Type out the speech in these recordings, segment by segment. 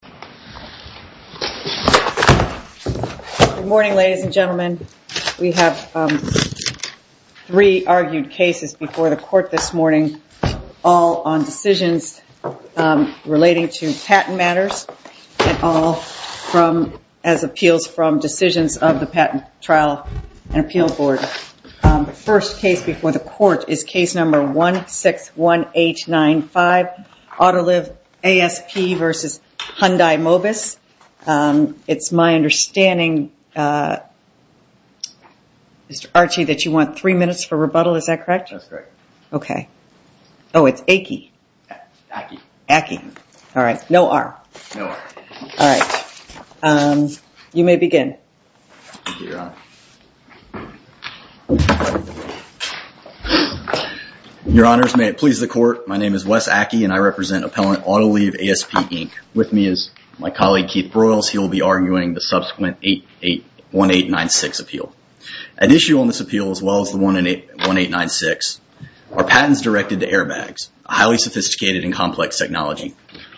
Good morning, ladies and gentlemen. We have three argued cases before the court this morning, all on decisions relating to patent matters and all as appeals from decisions of the Patent Trial and Appeal Board. The first case before the court is Case No. 161895, Autoliv ASP v. Hyundai Mobis. It's my understanding, Mr. Archie, that you want three minutes for rebuttal, is that correct? That's correct. Okay. Oh, it's ACKEY. ACKEY. ACKEY. All right. No R. All right. You may begin. Thank you, Your Honor. Your Honors, may it please the Court, my name is Wes Ackey, and I represent Appellant Autoliv ASP, Inc. With me is my colleague, Keith Broyles. He will be arguing the subsequent 1896 appeal. At issue on this appeal, as well as the 1896, are patents directed to airbags, a highly sophisticated and complex technology.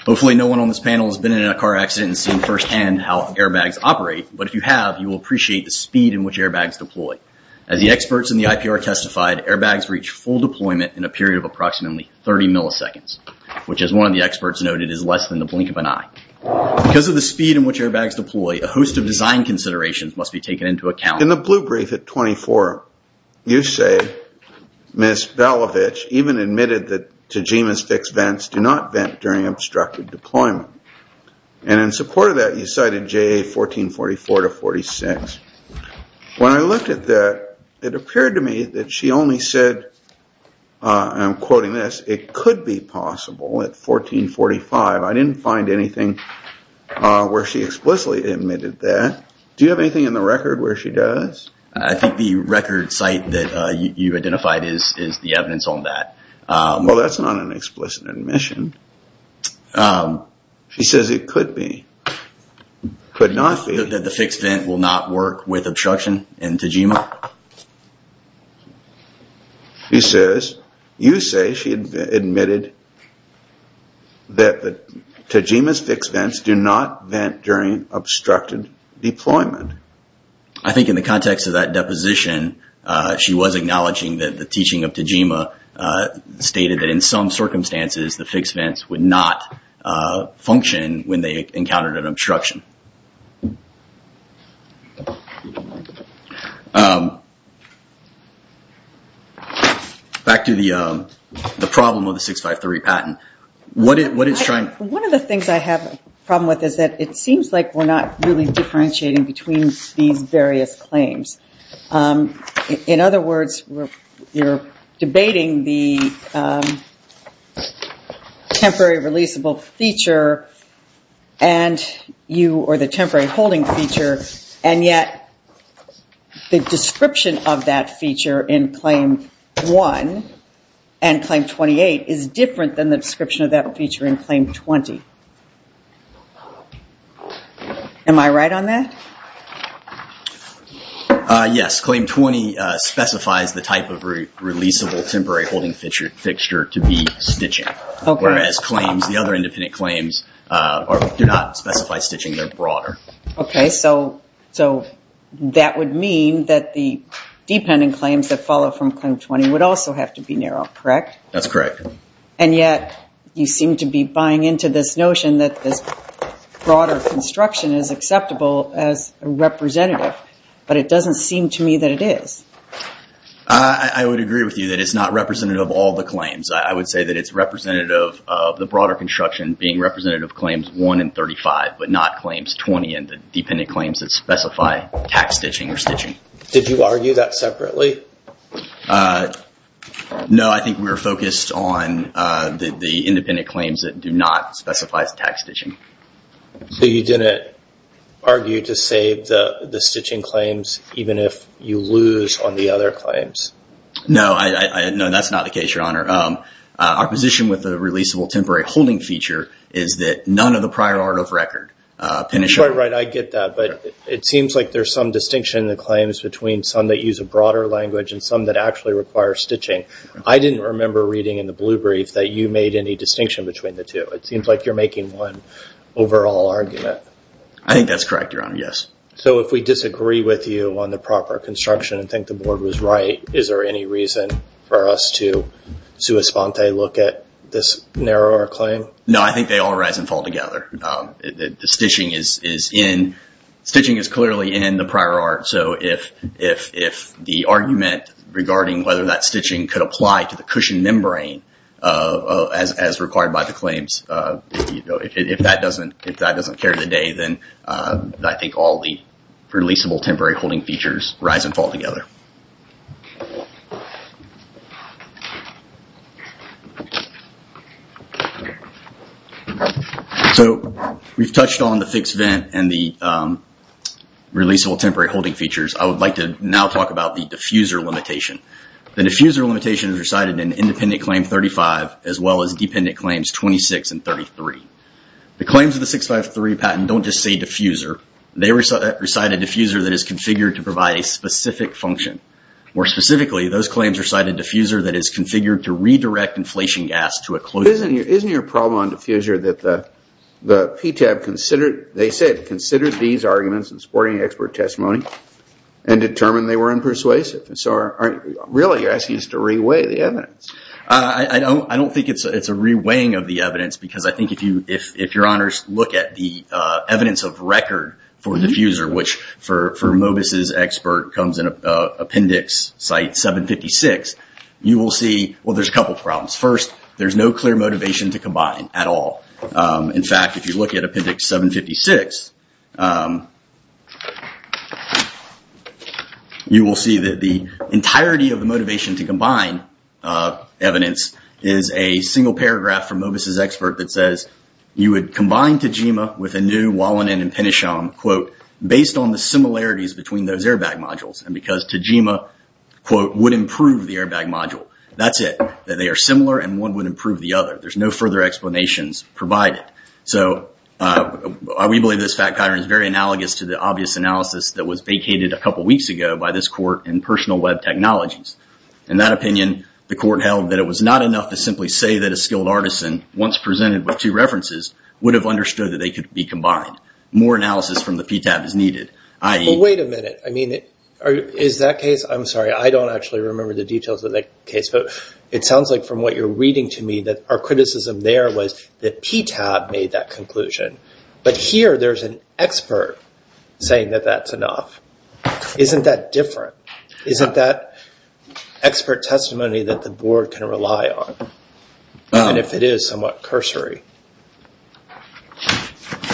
Hopefully no one on this panel has been in a car accident and seen firsthand how airbags operate, but if you have, you will appreciate the speed in which airbags deploy. As the experts in the IPR testified, airbags reach full deployment in a period of approximately 30 milliseconds, which, as one of the experts noted, is less than the blink of an eye. Because of the speed in which airbags deploy, a host of design considerations must be taken into account. In the blue brief at 24, you say Ms. Balovich even admitted that Tajima's fixed vents do not vent during obstructed deployment. In support of that, you cited JA 1444-46. When I looked at that, it appeared to me that she only said, and I'm quoting this, it could be possible at 1445. I didn't find anything where she explicitly admitted that. Do you have anything in the record where she does? I think the record site that you identified is the evidence on that. Well, that's not an explicit admission. She says it could be. Could not be. That the fixed vent will not work with obstruction in Tajima? She says, you say she admitted that Tajima's fixed vents do not vent during obstructed deployment. I think in the context of that deposition, she was acknowledging that the teaching of Tajima stated that in some circumstances, the fixed vents would not function when they encountered an obstruction. Back to the problem of the 653 patent. One of the things I have a problem with is that it seems like we're not really differentiating between these various claims. In other words, you're debating the temporary releasable feature and you or the temporary holding feature, and yet the description of that feature in Claim 1 and Claim 28 is different than the description of that feature in Claim 20. Am I right on that? Yes. Claim 20 specifies the type of releasable temporary holding fixture to be stitching. Whereas the other independent claims do not specify stitching, they're broader. That would mean that the dependent claims that follow from Claim 20 would also have to be narrow, correct? That's correct. Yet you seem to be buying into this notion that this broader construction is acceptable as a representative, but it doesn't seem to me that it is. I would agree with you that it's not representative of all the claims. I would say that it's representative of the broader construction being representative of Claims 1 and 35, but not Claims 20 and the dependent claims that specify tack stitching or stitching. Did you argue that separately? No, I think we were focused on the independent claims that do not specify as tack stitching. So you didn't argue to save the stitching claims even if you lose on the other claims? No, that's not the case, Your Honor. Our position with the releasable temporary holding feature is that none of the prior order of record... Right, right. I get that, but it seems like there's some distinction in the claims between some that use a broader language and some that actually require stitching. I didn't remember reading in the blue brief that you made any distinction between the two. It seems like you're making one overall argument. I think that's correct, Your Honor, yes. So if we disagree with you on the proper construction and think the board was right, is there any reason for us to sua sponte look at this narrower claim? No, I think they all rise and fall together. The stitching is clearly in the prior art, so if the argument regarding whether that stitching could apply to the cushion membrane as required by the claims, if that doesn't carry the day, then I think all the releasable temporary holding features rise and fall together. So we've touched on the fixed vent and the releasable temporary holding features. I would like to now talk about the diffuser limitation. The diffuser limitation is recited in independent claim 35 as well as dependent claims 26 and 33. The claims of the 653 patent don't just say diffuser. They recited diffuser that is configured to provide a specific function. More specifically, those claims recited diffuser that is configured to redirect inflation gas to a closed... Isn't your problem on diffuser that the PTAB considered, they said, considered these arguments in supporting expert testimony and determined they were unpersuasive? So really, you're asking us to re-weigh the evidence. I don't think it's a re-weighing of the evidence because I think if Your Honors look at the diffuser, which for Mobus' expert comes in appendix site 756, you will see, well, there's a couple of problems. First, there's no clear motivation to combine at all. In fact, if you look at appendix 756, you will see that the entirety of the motivation to combine evidence is a single paragraph from Mobus' expert that says, you would combine Tejima with a new Wallanen and Penisham, quote, based on the similarities between those airbag modules and because Tejima, quote, would improve the airbag module. That's it. That they are similar and one would improve the other. There's no further explanations provided. So we believe this fact pattern is very analogous to the obvious analysis that was vacated a couple of weeks ago by this court in personal web technologies. In that opinion, the court held that it was not enough to simply say that a skilled artisan once presented with two references would have understood that they could be combined. More analysis from the PTAB is needed, i.e. Wait a minute. I mean, is that case? I'm sorry. I don't actually remember the details of that case, but it sounds like from what you're reading to me that our criticism there was that PTAB made that conclusion, but here there's an expert saying that that's enough. Isn't that different? Isn't that expert testimony that the board can rely on? And if it is, somewhat cursory.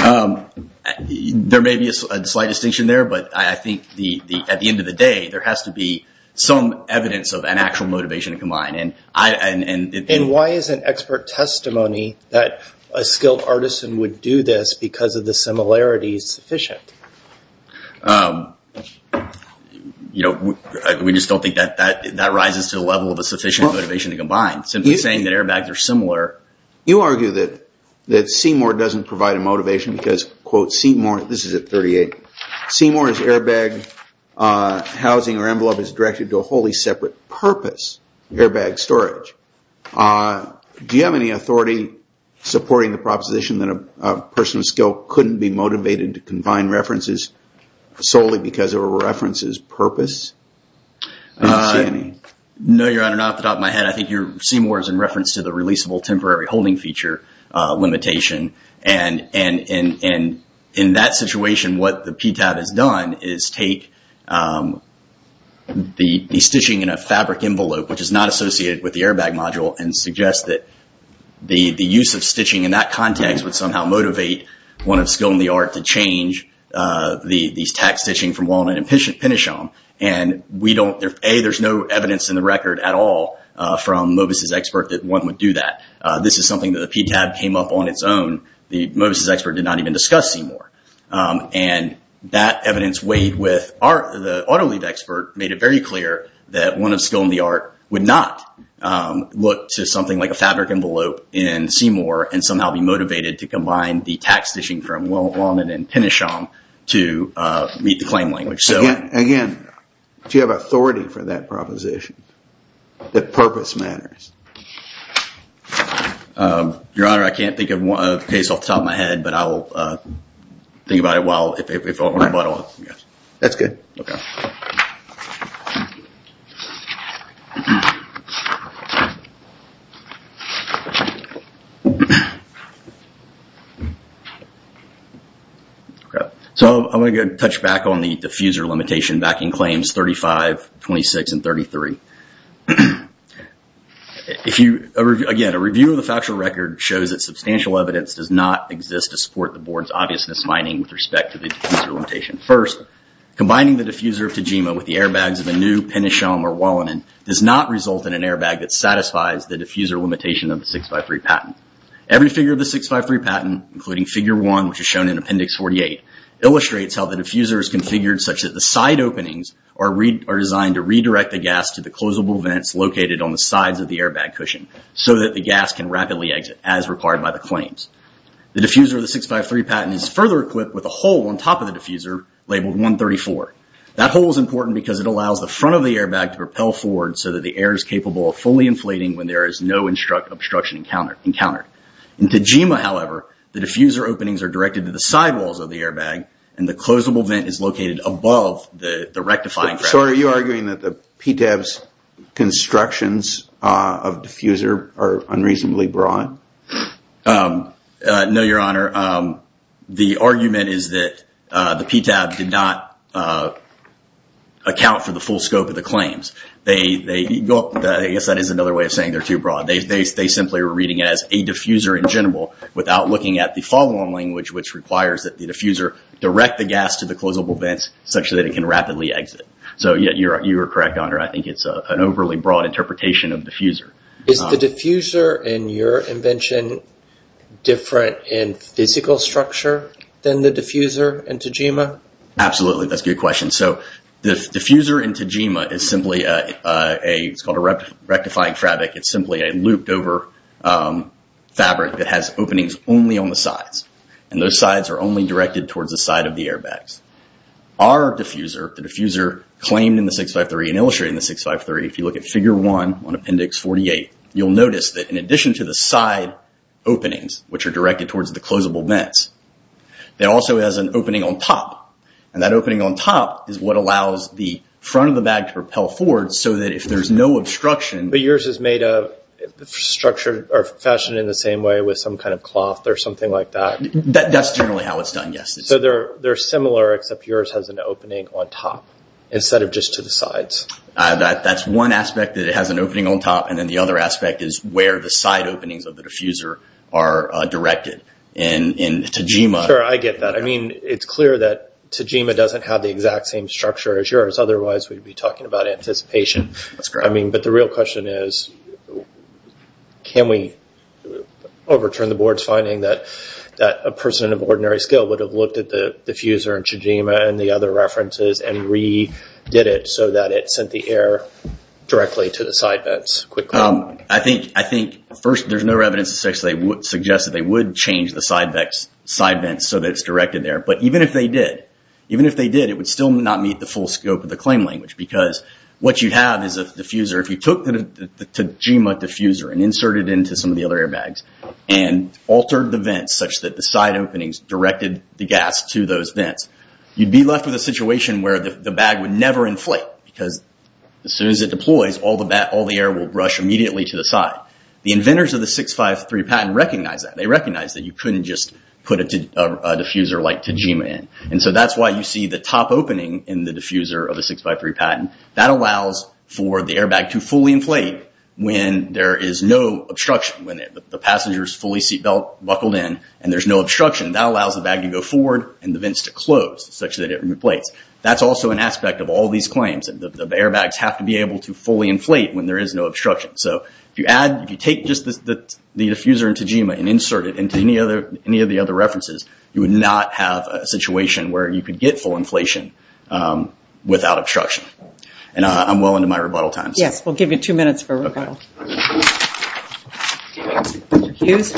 There may be a slight distinction there, but I think at the end of the day, there has to be some evidence of an actual motivation to combine. Why isn't expert testimony that a skilled artisan would do this because of the similarities sufficient? We just don't think that that rises to the level of a sufficient motivation to combine. Simply saying that airbags are similar. You argue that Seymour doesn't provide a motivation because, quote, Seymour, this is at 38, Seymour's airbag housing or envelope is directed to a wholly separate purpose, airbag storage. Do you have any authority supporting the proposition that a person of skill couldn't be motivated to combine references solely because of a reference's purpose? No, Your Honor, not off the top of my head. I think Seymour is in reference to the releasable temporary holding feature limitation. In that situation, what the PTAB has done is take the stitching in a fabric envelope, which is not associated with the airbag module, and suggest that the use of stitching in that context would somehow motivate one of skill in the art to change these tack stitching from walnut and pinichon. A, there's no evidence in the record at all from Mobus' expert that one would do that. This is something that the PTAB came up on its own. The Mobus' expert did not even discuss Seymour. That evidence weighed with the auto lead expert made it very clear that one of skill in the art would not look to something like a fabric envelope in Seymour and somehow be motivated to combine the tack stitching from walnut and pinichon to meet the claim language. Again, do you have authority for that proposition? That purpose matters? Your Honor, I can't think of a case off the top of my head, but I will think about it while if I want to follow up. That's good. I'm going to touch back on the diffuser limitation backing claims 35, 26, and 33. Again, a review of the factual record shows that substantial evidence does not exist to support the board's obviousness finding with respect to the diffuser limitation. First, combining the diffuser of Tejima with the airbags of a new pinichon or walnut does not result in an airbag that satisfies the diffuser limitation of the 653 patent. Every figure of the 653 patent, including figure one, which is shown in appendix 48, illustrates how the diffuser is configured such that the side openings are designed to redirect the gas to the closable vents located on the sides of the airbag cushion so that the gas can rapidly exit as required by the claims. The diffuser of the 653 patent is further equipped with a hole on top of the diffuser labeled 134. That hole is important because it allows the front of the airbag to propel forward so that the air is capable of fully inflating when there is no obstruction encountered. In Tejima, however, the diffuser openings are directed to the sidewalls of the airbag and the closable vent is located above the rectifying frame. So are you arguing that the PTAB's constructions of diffuser are unreasonably broad? No, your honor. The argument is that the PTAB did not account for the full scope of the claims. I guess that is another way of saying they're too broad. They simply were reading it as a diffuser in general without looking at the follow on language which requires that the diffuser direct the gas to the closable vents such that it can rapidly exit. You are correct, your honor. I think it's an overly broad interpretation of diffuser. Is the diffuser in your invention different in physical structure than the diffuser in Tejima? Absolutely. That's a good question. The diffuser in Tejima is simply a rectifying fabric. It's simply a looped over fabric that has openings only on the sides. Those sides are only directed towards the side of the airbags. Our diffuser, the diffuser claimed in the 653 and illustrated in the 653, if you look at figure one on appendix 48, you'll notice that in addition to the side openings, which are directed towards the closable vents, it also has an opening on top. That opening on top is what allows the front of the bag to propel forward so that if there's no obstruction- But yours is made of, structured, or fashioned in the same way with some kind of cloth or something like that? That's generally how it's done, yes. They're similar except yours has an opening on top instead of just to the sides. That's one aspect, that it has an opening on top, and then the other aspect is where the side openings of the diffuser are directed. In Tejima- Sure, I get that. It's clear that Tejima doesn't have the exact same structure as yours, otherwise we'd be talking about anticipation. But the real question is, can we overturn the board's finding that a person of ordinary skill would have looked at the diffuser in Tejima and the other references and redid it so that it sent the air directly to the side vents quickly? I think, first, there's no evidence to suggest that they would change the side vents so that it's directed there. But even if they did, it would still not meet the full scope of the claim language. Because what you'd have is a diffuser, if you took the Tejima diffuser and inserted it into some of the other airbags and altered the vents such that the side openings directed the gas to those vents, you'd be left with a situation where the bag would never inflate. Because as soon as it deploys, all the air will rush immediately to the side. The inventors of the 653 patent recognize that. They recognize that you couldn't just put a diffuser like Tejima in. That's why you see the top opening in the diffuser of the 653 patent. That allows for the airbag to fully inflate when there is no obstruction, when the passenger's fully seat belt buckled in and there's no obstruction. That allows the bag to go forward and the vents to close, such that it replace. That's also an aspect of all these claims, that the airbags have to be able to fully inflate when there is no obstruction. So if you take just the diffuser in Tejima and insert it into any of the other references, you would not have a situation where you could get full inflation without obstruction. And I'm well into my rebuttal time. Yes, we'll give you two minutes for rebuttal. Okay. Mr. Hughes?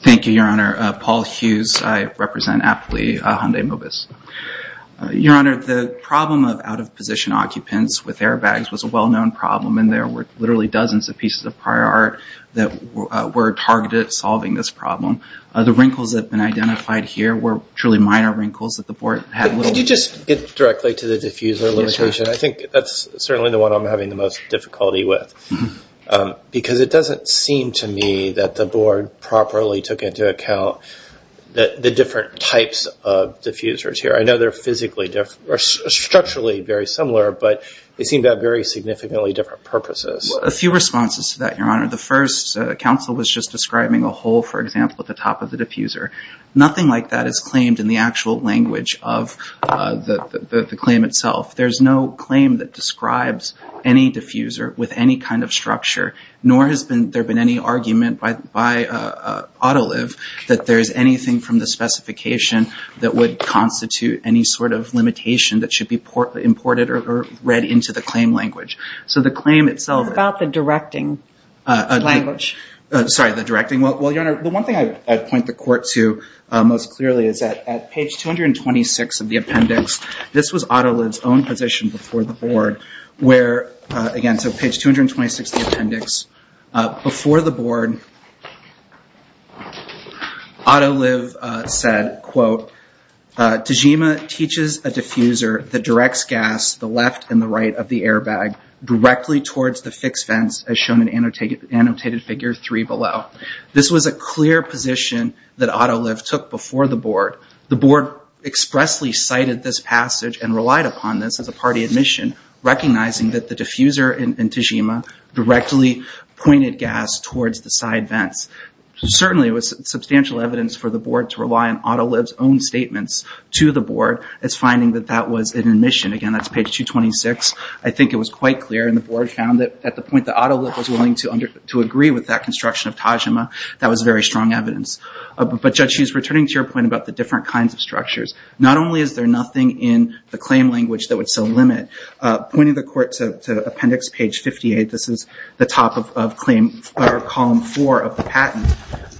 Thank you, Your Honor. Paul Hughes. I represent aptly Hyundai Mobis. Your Honor, the problem of out-of-position occupants with airbags was a well-known problem and there were literally dozens of pieces of prior art that were targeted at solving this problem. The wrinkles that have been identified here were truly minor wrinkles that the board had little... Could you just get directly to the diffuser limitation? I think that's certainly the one I'm having the most difficulty with. Because it doesn't seem to me that the board properly took into account the different types of diffusers here. I know they're structurally very similar, but they seem to have very significantly different purposes. A few responses to that, Your Honor. The first, counsel was just describing a hole, for example, at the top of the diffuser. Nothing like that is claimed in the actual language of the claim itself. There's no claim that describes any diffuser with any kind of structure, nor has there been any argument by Autoliv that there's anything from the specification that would constitute any sort of limitation that should be imported or read into the claim language. So the claim itself... What about the directing language? Sorry, the directing. Well, Your Honor, the one thing I'd point the court to most clearly is that at page 226 of the appendix, this was Autoliv's own position before the board, where, again, so page 226 of the appendix, before the board, Autoliv said, quote, Tejima teaches a diffuser that directs gas the left and the right of the airbag directly towards the fixed fence as shown in annotated figure three below. This was a clear position that Autoliv took before the board. The board expressly cited this passage and relied upon this as a party admission, recognizing that the diffuser in Tejima directly pointed gas towards the side vents. Certainly, it was substantial evidence for the board to rely on Autoliv's own statements to the board as finding that that was an admission. Again, that's page 226. I think it was quite clear, and the board found that at the point that Autoliv was willing to agree with that construction of Tejima, that was very strong evidence. But Judge Hughes, returning to your point about the different kinds of structures, not only is there nothing in the claim language that would still limit, pointing the court to appendix page 58, this is the top of claim, or column four of the patent.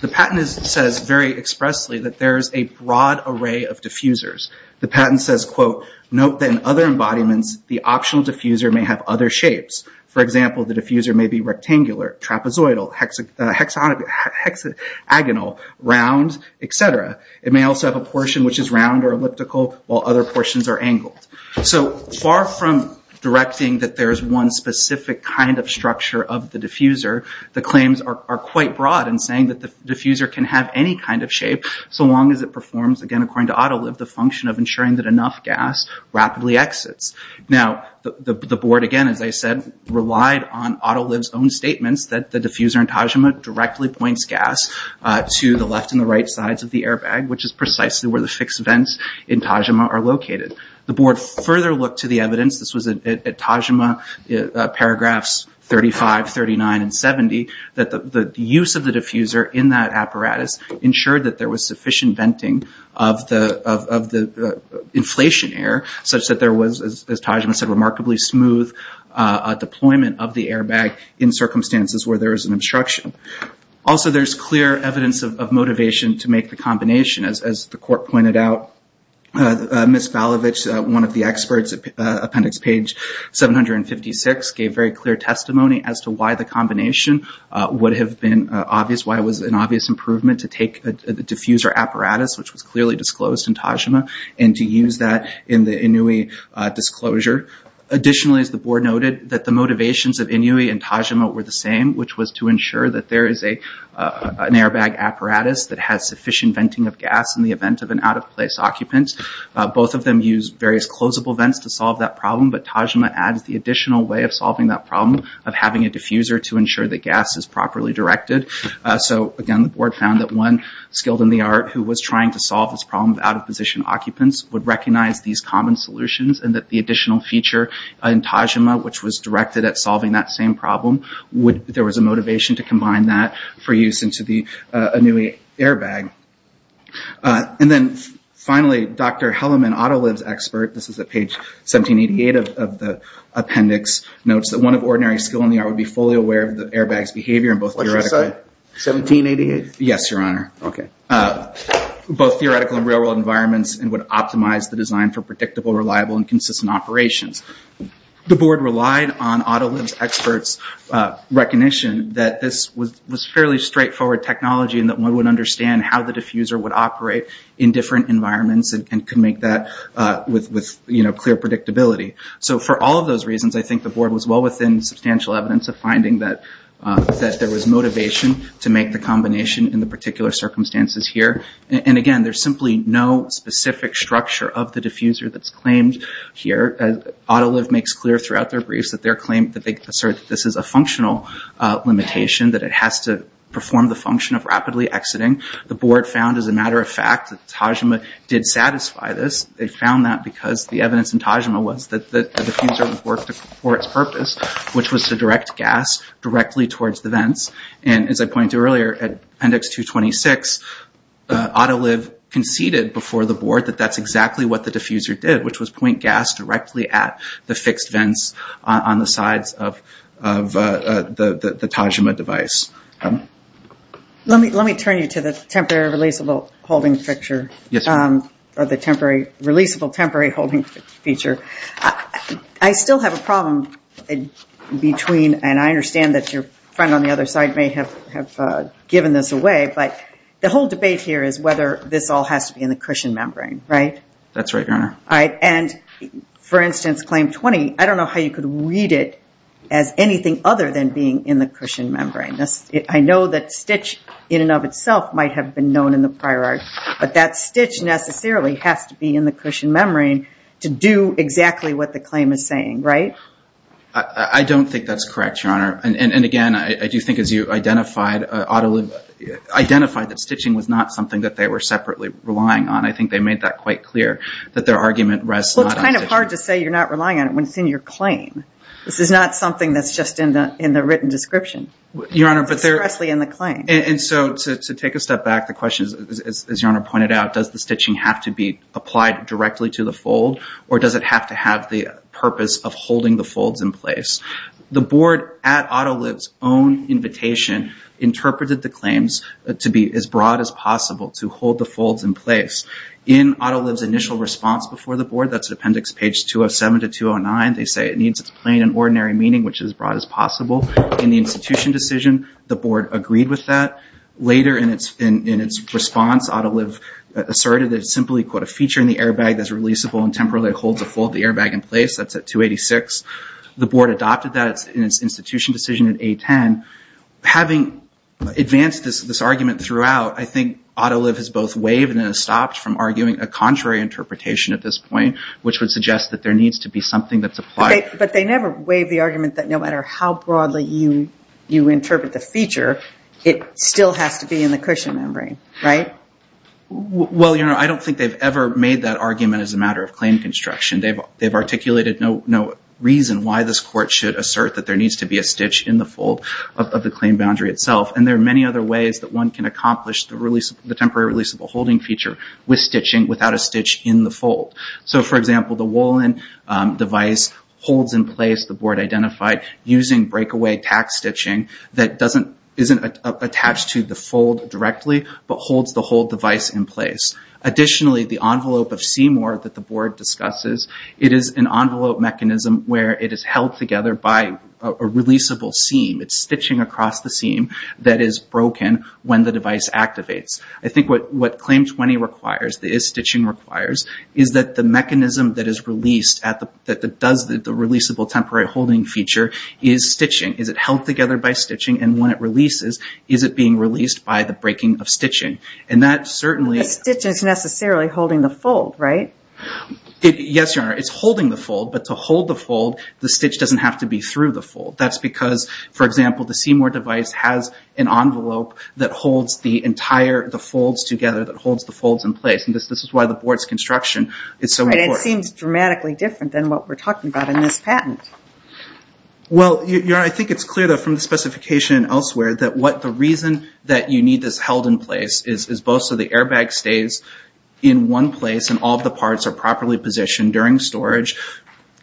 The patent says very expressly that there is a broad array of diffusers. The patent says, quote, Note that in other embodiments, the optional diffuser may have other shapes. For example, the diffuser may be rectangular, trapezoidal, hexagonal, round, et cetera. It may also have a portion which is round or elliptical, while other portions are angled. So far from directing that there is one specific kind of structure of the diffuser, the claims are quite broad in saying that the diffuser can have any kind of shape, so long as it performs, again, according to Autoliv, the function of ensuring that enough gas rapidly exits. Now, the board, again, as I said, relied on Autoliv's own statements that the diffuser in Tejima directly points gas to the left and the right sides of the airbag, which is precisely where the fixed vents in Tejima are located. The board further looked to the evidence. This was at Tejima, paragraphs 35, 39, and 70, that the use of the diffuser in that apparatus ensured that there was sufficient venting of the inflation air, such that there was, as Tejima said, remarkably smooth deployment of the airbag in circumstances where there is an obstruction. Also, there is clear evidence of motivation to make the combination, as the court pointed out. Ms. Falovich, one of the experts, appendix page 756, gave very clear testimony as to why the combination would have been obvious, why it was an obvious improvement to take the diffuser apparatus, which was clearly disclosed in Tejima, and to use that in the Inui disclosure. Additionally, as the board noted, that the motivations of Inui and Tejima were the same, which was to ensure that there is an airbag apparatus that has sufficient venting of gas in the event of an out-of-place occupant. Both of them used various closable vents to solve that problem, but Tejima adds the additional way of solving that problem of having a diffuser to ensure that gas is properly directed. Again, the board found that one skilled in the art who was trying to solve this problem of out-of-position occupants would recognize these common solutions, and that the additional feature in Tejima, which was directed at solving that same problem, there was a motivation to combine that for use into the Inui airbag. And then finally, Dr. Helleman, Autoliv's expert, this is at page 1788 of the appendix, notes that one of ordinary skill in the art would be fully aware of the airbag's behavior in both theoretical... What did you say? 1788? Yes, your honor. Okay. Both theoretical and real-world environments, and would optimize the design for predictable, reliable, and consistent operations. The board relied on Autoliv's expert's recognition that this was fairly straightforward technology and that one would understand how the diffuser would operate in different environments and could make that with clear predictability. For all of those reasons, I think the board was well within substantial evidence of finding that there was motivation to make the combination in the particular circumstances here. And again, there's simply no specific structure of the diffuser that's claimed here. Autoliv makes clear throughout their briefs that they assert that this is a functional limitation, that it has to perform the function of rapidly exiting. The board found, as a matter of fact, that Tejima did satisfy this. They found that because the evidence in Tejima was that the diffuser would work for its purpose, which was to direct gas directly towards the vents. As I pointed out earlier, at appendix 226, Autoliv conceded before the board that that's exactly what the diffuser did, which was point gas directly at the fixed vents on the sides of the Tejima device. Let me turn you to the temporary releasable temporary holding fixture. I still have a problem between, and I understand that your friend on the other side may have given this away, but the whole debate here is whether this all has to be in the cushion membrane, right? That's right, Your Honor. For instance, claim 20, I don't know how you could read it as anything other than being in the cushion membrane. I know that stitch in and of itself might have been known in the prior art, but that stitch necessarily has to be in the cushion membrane to do exactly what the claim is saying, right? I don't think that's correct, Your Honor. And again, I do think as you identified, Autoliv identified that stitching was not something that they were separately relying on. I think they made that quite clear that their argument rests not on stitching. Well, it's kind of hard to say you're not relying on it when it's in your claim. This is not something that's just in the written description. It's expressly in the claim. And so to take a step back, the question is, as Your Honor pointed out, does the stitching have to be applied directly to the fold, or does it have to have the purpose of holding the folds in place? The board at Autoliv's own invitation interpreted the claims to be as broad as possible to hold the folds in place. In Autoliv's initial response before the board, that's appendix page 207 to 209, they say it needs its plain and ordinary meaning, which is as broad as possible. In the institution decision, the board agreed with that. Later in its response, Autoliv asserted that it's simply, quote, a feature in the airbag that's releasable and temporarily holds the fold of the airbag in place, that's at 286. The board adopted that in its institution decision in A10. Having advanced this argument throughout, I think Autoliv has both waived and has stopped from arguing a contrary interpretation at this point, which would suggest that there But they never waived the argument that no matter how broadly you interpret the feature, it still has to be in the cushion membrane, right? Well, Your Honor, I don't think they've ever made that argument as a matter of claim construction. They've articulated no reason why this court should assert that there needs to be a stitch in the fold of the claim boundary itself, and there are many other ways that one can accomplish the temporary releasable holding feature with stitching without a stitch in the fold. So for example, the Wolin device holds in place, the board identified, using breakaway tack stitching that isn't attached to the fold directly, but holds the whole device in place. Additionally, the envelope of C-more that the board discusses, it is an envelope mechanism where it is held together by a releasable seam. It's stitching across the seam that is broken when the device activates. I think what Claim 20 requires, that is stitching requires, is that the mechanism that is released at the releasable temporary holding feature is stitching. Is it held together by stitching, and when it releases, is it being released by the breaking of stitching? And that certainly... The stitch is necessarily holding the fold, right? Yes, Your Honor, it's holding the fold, but to hold the fold, the stitch doesn't have to be through the fold. That's because, for example, the C-more device has an envelope that holds the entire, the folds together, that holds the folds in place, and this is why the board's construction is so important. Right, it seems dramatically different than what we're talking about in this patent. Well, Your Honor, I think it's clear that from the specification elsewhere, that what the reason that you need this held in place is both so the airbag stays in one place and all of the parts are properly positioned during storage,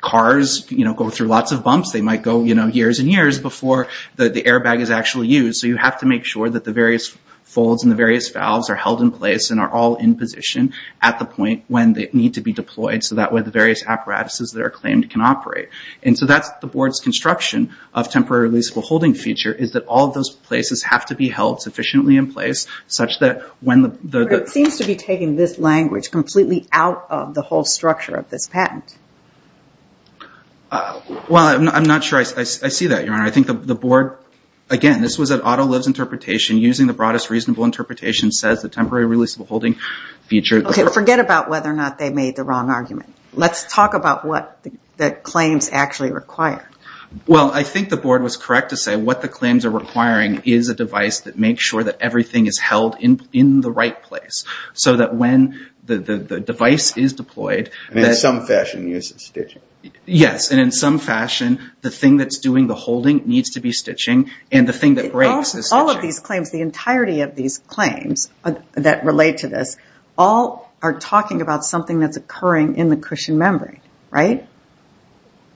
cars go through lots of bumps, they might go years and years before the airbag is actually used, so you have to make sure that the various folds and the various valves are held in place and are all in position at the point when they need to be deployed, so that way the various apparatuses that are claimed can operate. And so that's the board's construction of temporary releasable holding feature, is that all of those places have to be held sufficiently in place, such that when the... Right, it seems to be taking this language completely out of the whole structure of this patent. Well, I'm not sure I see that, Your Honor. I think the board, again, this was an auto-lives interpretation, using the broadest reasonable interpretation says the temporary releasable holding feature... Okay, forget about whether or not they made the wrong argument. Let's talk about what the claims actually require. Well, I think the board was correct to say what the claims are requiring is a device that makes sure that everything is held in the right place, so that when the device is deployed... And in some fashion uses stitching. Yes, and in some fashion, the thing that's doing the holding needs to be stitching, and the thing that breaks is stitching. All of these claims, the entirety of these claims that relate to this, all are talking about something that's occurring in the cushion membrane, right?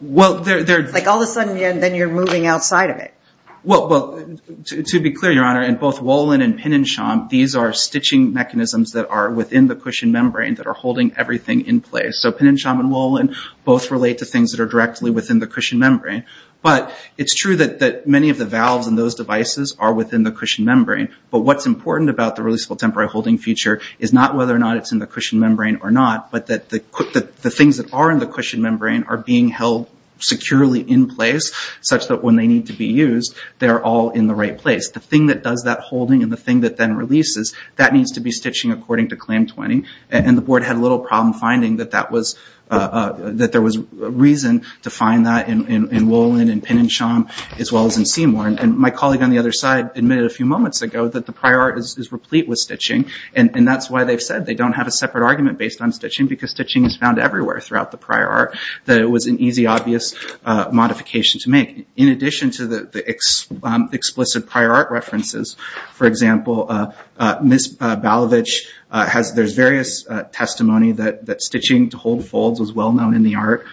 Well, they're... It's like all of a sudden, then you're moving outside of it. Well, to be clear, Your Honor, in both Wolin and Penensham, these are stitching mechanisms that are within the cushion membrane that are holding everything in place. So Penensham and Wolin both relate to things that are directly within the cushion membrane. But it's true that many of the valves in those devices are within the cushion membrane. But what's important about the releasable temporary holding feature is not whether or not it's in the cushion membrane or not, but that the things that are in the cushion membrane are being held securely in place, such that when they need to be used, they're all in the right place. The thing that does that holding and the thing that then releases, that needs to be stitching according to Claim 20. The board had a little problem finding that there was reason to find that in Wolin and Penensham, as well as in Seymour. My colleague on the other side admitted a few moments ago that the prior art is replete with stitching. That's why they've said they don't have a separate argument based on stitching, because stitching is found everywhere throughout the prior art, that it was an easy, obvious modification to make. In addition to the explicit prior art references, for example, Ms. Balavich, there's various testimony that stitching to hold folds was well-known in the art.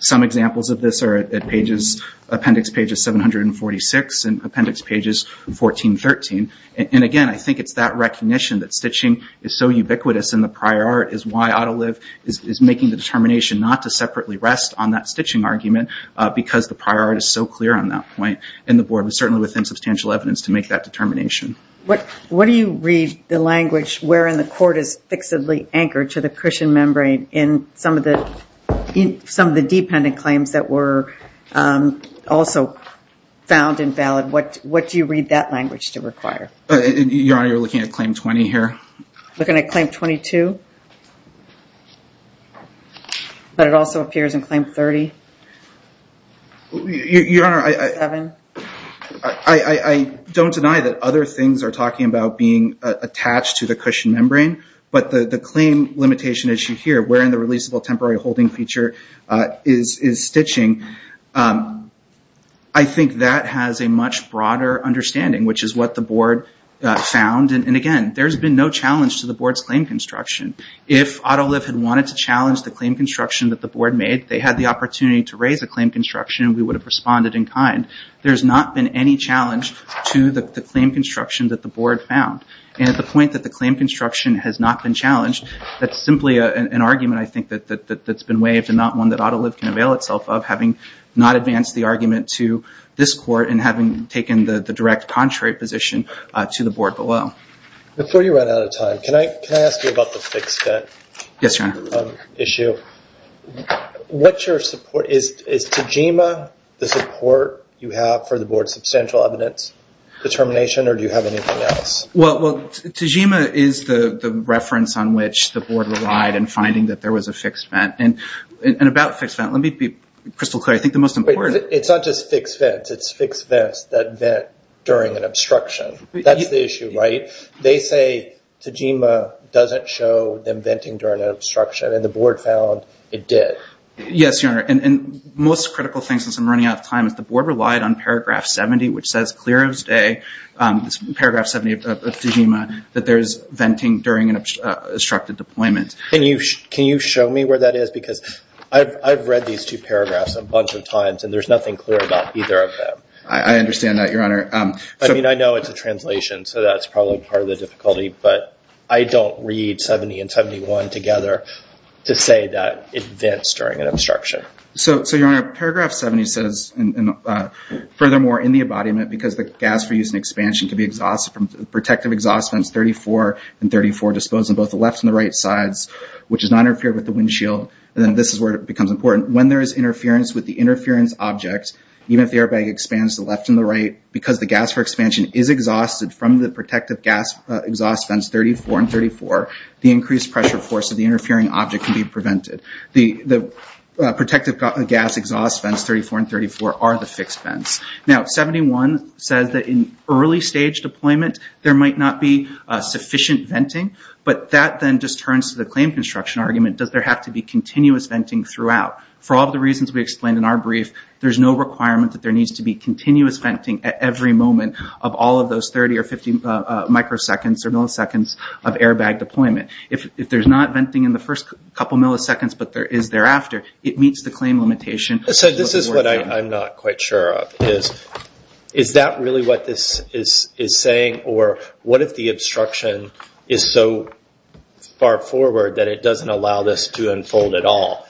Some examples of this are at appendix pages 746 and appendix pages 1413. Again, I think it's that recognition that stitching is so ubiquitous in the prior art is why Autoliv is making the determination not to separately rest on that stitching argument, because the prior art is so clear on that point, and the board was certainly within substantial evidence to make that determination. What do you read the language where in the court is fixedly anchored to the cushion membrane in some of the dependent claims that were also found invalid? What do you read that language to require? Your Honor, you're looking at Claim 20 here? Looking at Claim 22. But it also appears in Claim 30? Your Honor, I don't deny that other things are talking about being attached to the cushion membrane, but the claim limitation issue here, where in the releasable temporary holding feature is stitching, I think that has a much broader understanding, which is what the board found. And again, there's been no challenge to the board's claim construction. If Autoliv had wanted to challenge the claim construction that the board made, they had the opportunity to raise a claim construction, and we would have responded in kind. There's not been any challenge to the claim construction that the board found. And at the point that the claim construction has not been challenged, that's simply an argument I think that's been waived and not one that Autoliv can avail itself of, having not advanced the argument to this court and having taken the direct contrary position to the board below. Before you run out of time, can I ask you about the fixed vent issue? Yes, Your Honor. What's your support? Is Tejima the support you have for the board's substantial evidence determination, or do you have anything else? Well, Tejima is the reference on which the board relied in finding that there was a fixed vent. And about fixed vent, let me be crystal clear, I think the most important... It's not just fixed vents. It's fixed vents that vent during an obstruction. That's the issue, right? They say Tejima doesn't show them venting during an obstruction, and the board found it did. Yes, Your Honor. And most critical thing, since I'm running out of time, is the board relied on paragraph 70, which says clear as day, paragraph 70 of Tejima, that there's venting during an obstructed deployment. Can you show me where that is? Because I've read these two paragraphs a bunch of times, and there's nothing clear about either of them. I understand that, Your Honor. I mean, I know it's a translation, so that's probably part of the difficulty, but I don't read 70 and 71 together to say that it vents during an obstruction. So, Your Honor, paragraph 70 says, furthermore, in the embodiment, because the gas for use and expansion can be exhausted from protective exhaust vents 34 and 34 dispose on both the left and the right sides, which does not interfere with the windshield, and then this is where it becomes important. When there is interference with the interference object, even if the airbag expands the left and the right, because the gas for expansion is exhausted from the protective gas exhaust vents 34 and 34, the increased pressure force of the interfering object can be prevented. The protective gas exhaust vents 34 and 34 are the fixed vents. Now, 71 says that in early stage deployment, there might not be sufficient venting, but that then just turns to the claim construction argument, does there have to be continuous venting throughout? For all of the reasons we explained in our brief, there's no requirement that there needs to be continuous venting at every moment of all of those 30 or 50 microseconds or milliseconds of airbag deployment. If there's not venting in the first couple of milliseconds, but there is thereafter, it meets the claim limitation. So this is what I'm not quite sure of. Is that really what this is saying, or what if the obstruction is so far forward that it doesn't allow this to unfold at all?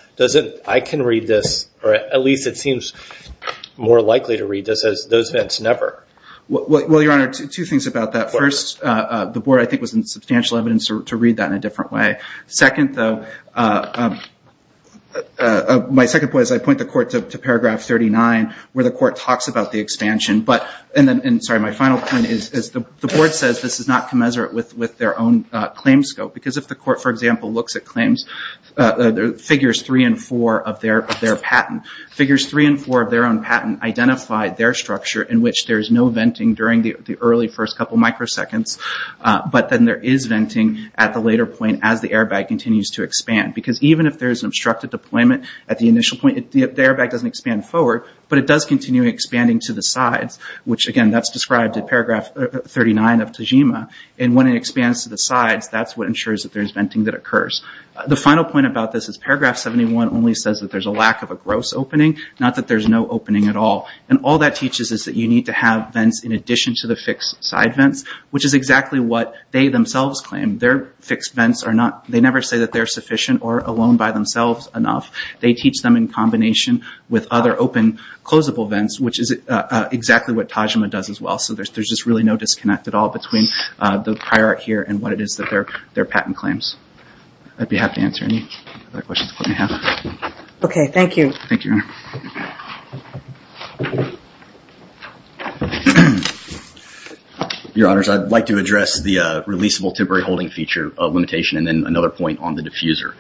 I can read this, or at least it seems more likely to read this as those vents never. Well, Your Honor, two things about that. First, the board, I think, was in substantial evidence to read that in a different way. Second, though, my second point is I point the court to paragraph 39, where the court talks about the expansion, and then, sorry, my final point is the board says this is not commensurate with their own claim scope. If the court, for example, looks at claims, figures three and four of their patent, figures three and four of their own patent identified their structure in which there's no venting during the early first couple of microseconds, but then there is venting at the later point as the airbag continues to expand. Because even if there's obstructed deployment at the initial point, the airbag doesn't expand forward, but it does continue expanding to the sides, which again, that's described in paragraph 39 of Tajima, and when it expands to the sides, that's what ensures that there's venting that occurs. The final point about this is paragraph 71 only says that there's a lack of a gross opening, not that there's no opening at all. All that teaches is that you need to have vents in addition to the fixed side vents, which is exactly what they themselves claim. Their fixed vents are not, they never say that they're sufficient or alone by themselves enough. They teach them in combination with other open, closable vents, which is exactly what Tajima does as well. There's just really no disconnect at all between the prior art here and what it is that their patent claims. I'd be happy to answer any other questions the court may have. Okay. Thank you. Thank you, Your Honor. Your Honors, I'd like to address the releasable temporary holding feature limitation and then another point on the diffuser.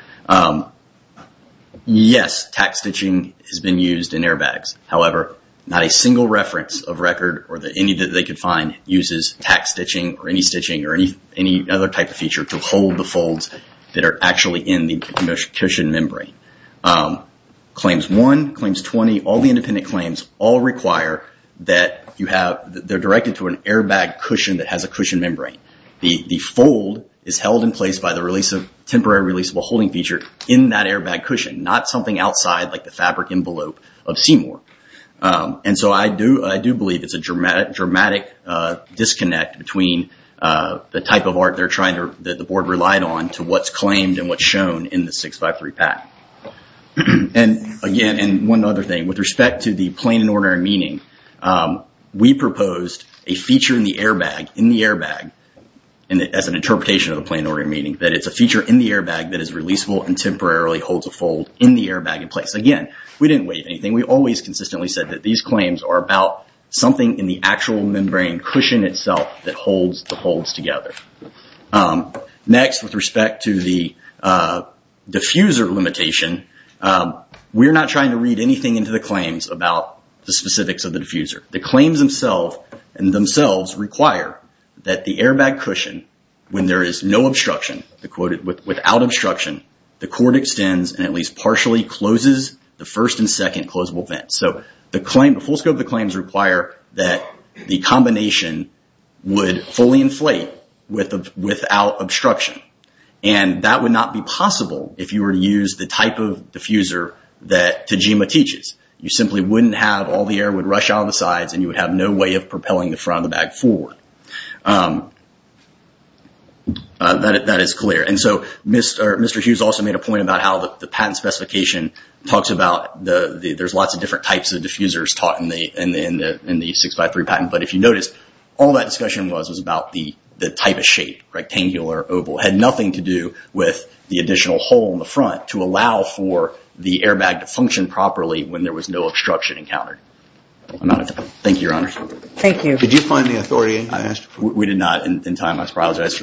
Yes, tack stitching has been used in airbags. However, not a single reference of record or any that they could find uses tack stitching or any stitching or any other type of feature to hold the folds that are actually in the cushion membrane. Claims one, claims 20, all the independent claims all require that they're directed to an airbag cushion that has a cushion membrane. The fold is held in place by the temporary releasable holding feature in that airbag cushion, not something outside like the fabric envelope of Seymour. I do believe it's a dramatic disconnect between the type of art that the board relied on to what's claimed and what's shown in the 653 patent. Again, and one other thing, with respect to the plain and ordinary meaning, we proposed a feature in the airbag as an interpretation of the plain and ordinary meaning, that it's a feature in the airbag that is releasable and temporarily holds a fold in the airbag in place. Again, we didn't waive anything. We always consistently said that these claims are about something in the actual membrane cushion itself that holds the folds together. Next, with respect to the diffuser limitation, we're not trying to read anything into the claims about the specifics of the diffuser. The claims themselves require that the airbag cushion, when there is no obstruction, the quote, without obstruction, the cord extends and at least partially closes the first and second closable vent. The full scope of the claims require that the combination would fully inflate without obstruction. That would not be possible if you were to use the type of diffuser that Tajima teaches. You simply wouldn't have all the air would rush out of the sides and you would have no way of propelling the front of the bag forward. That is clear. Mr. Hughes also made a point about how the patent specification talks about there's lots of different types of diffusers taught in the 653 patent. If you notice, all that discussion was about the type of shape, rectangular, oval, had nothing to do with the additional hole in the front to allow for the airbag to function properly when there was no obstruction encountered. I'm out of time. Thank you, Your Honor. Thank you. Did you find the authority I asked for? We did not in time. I apologize for that. Okay.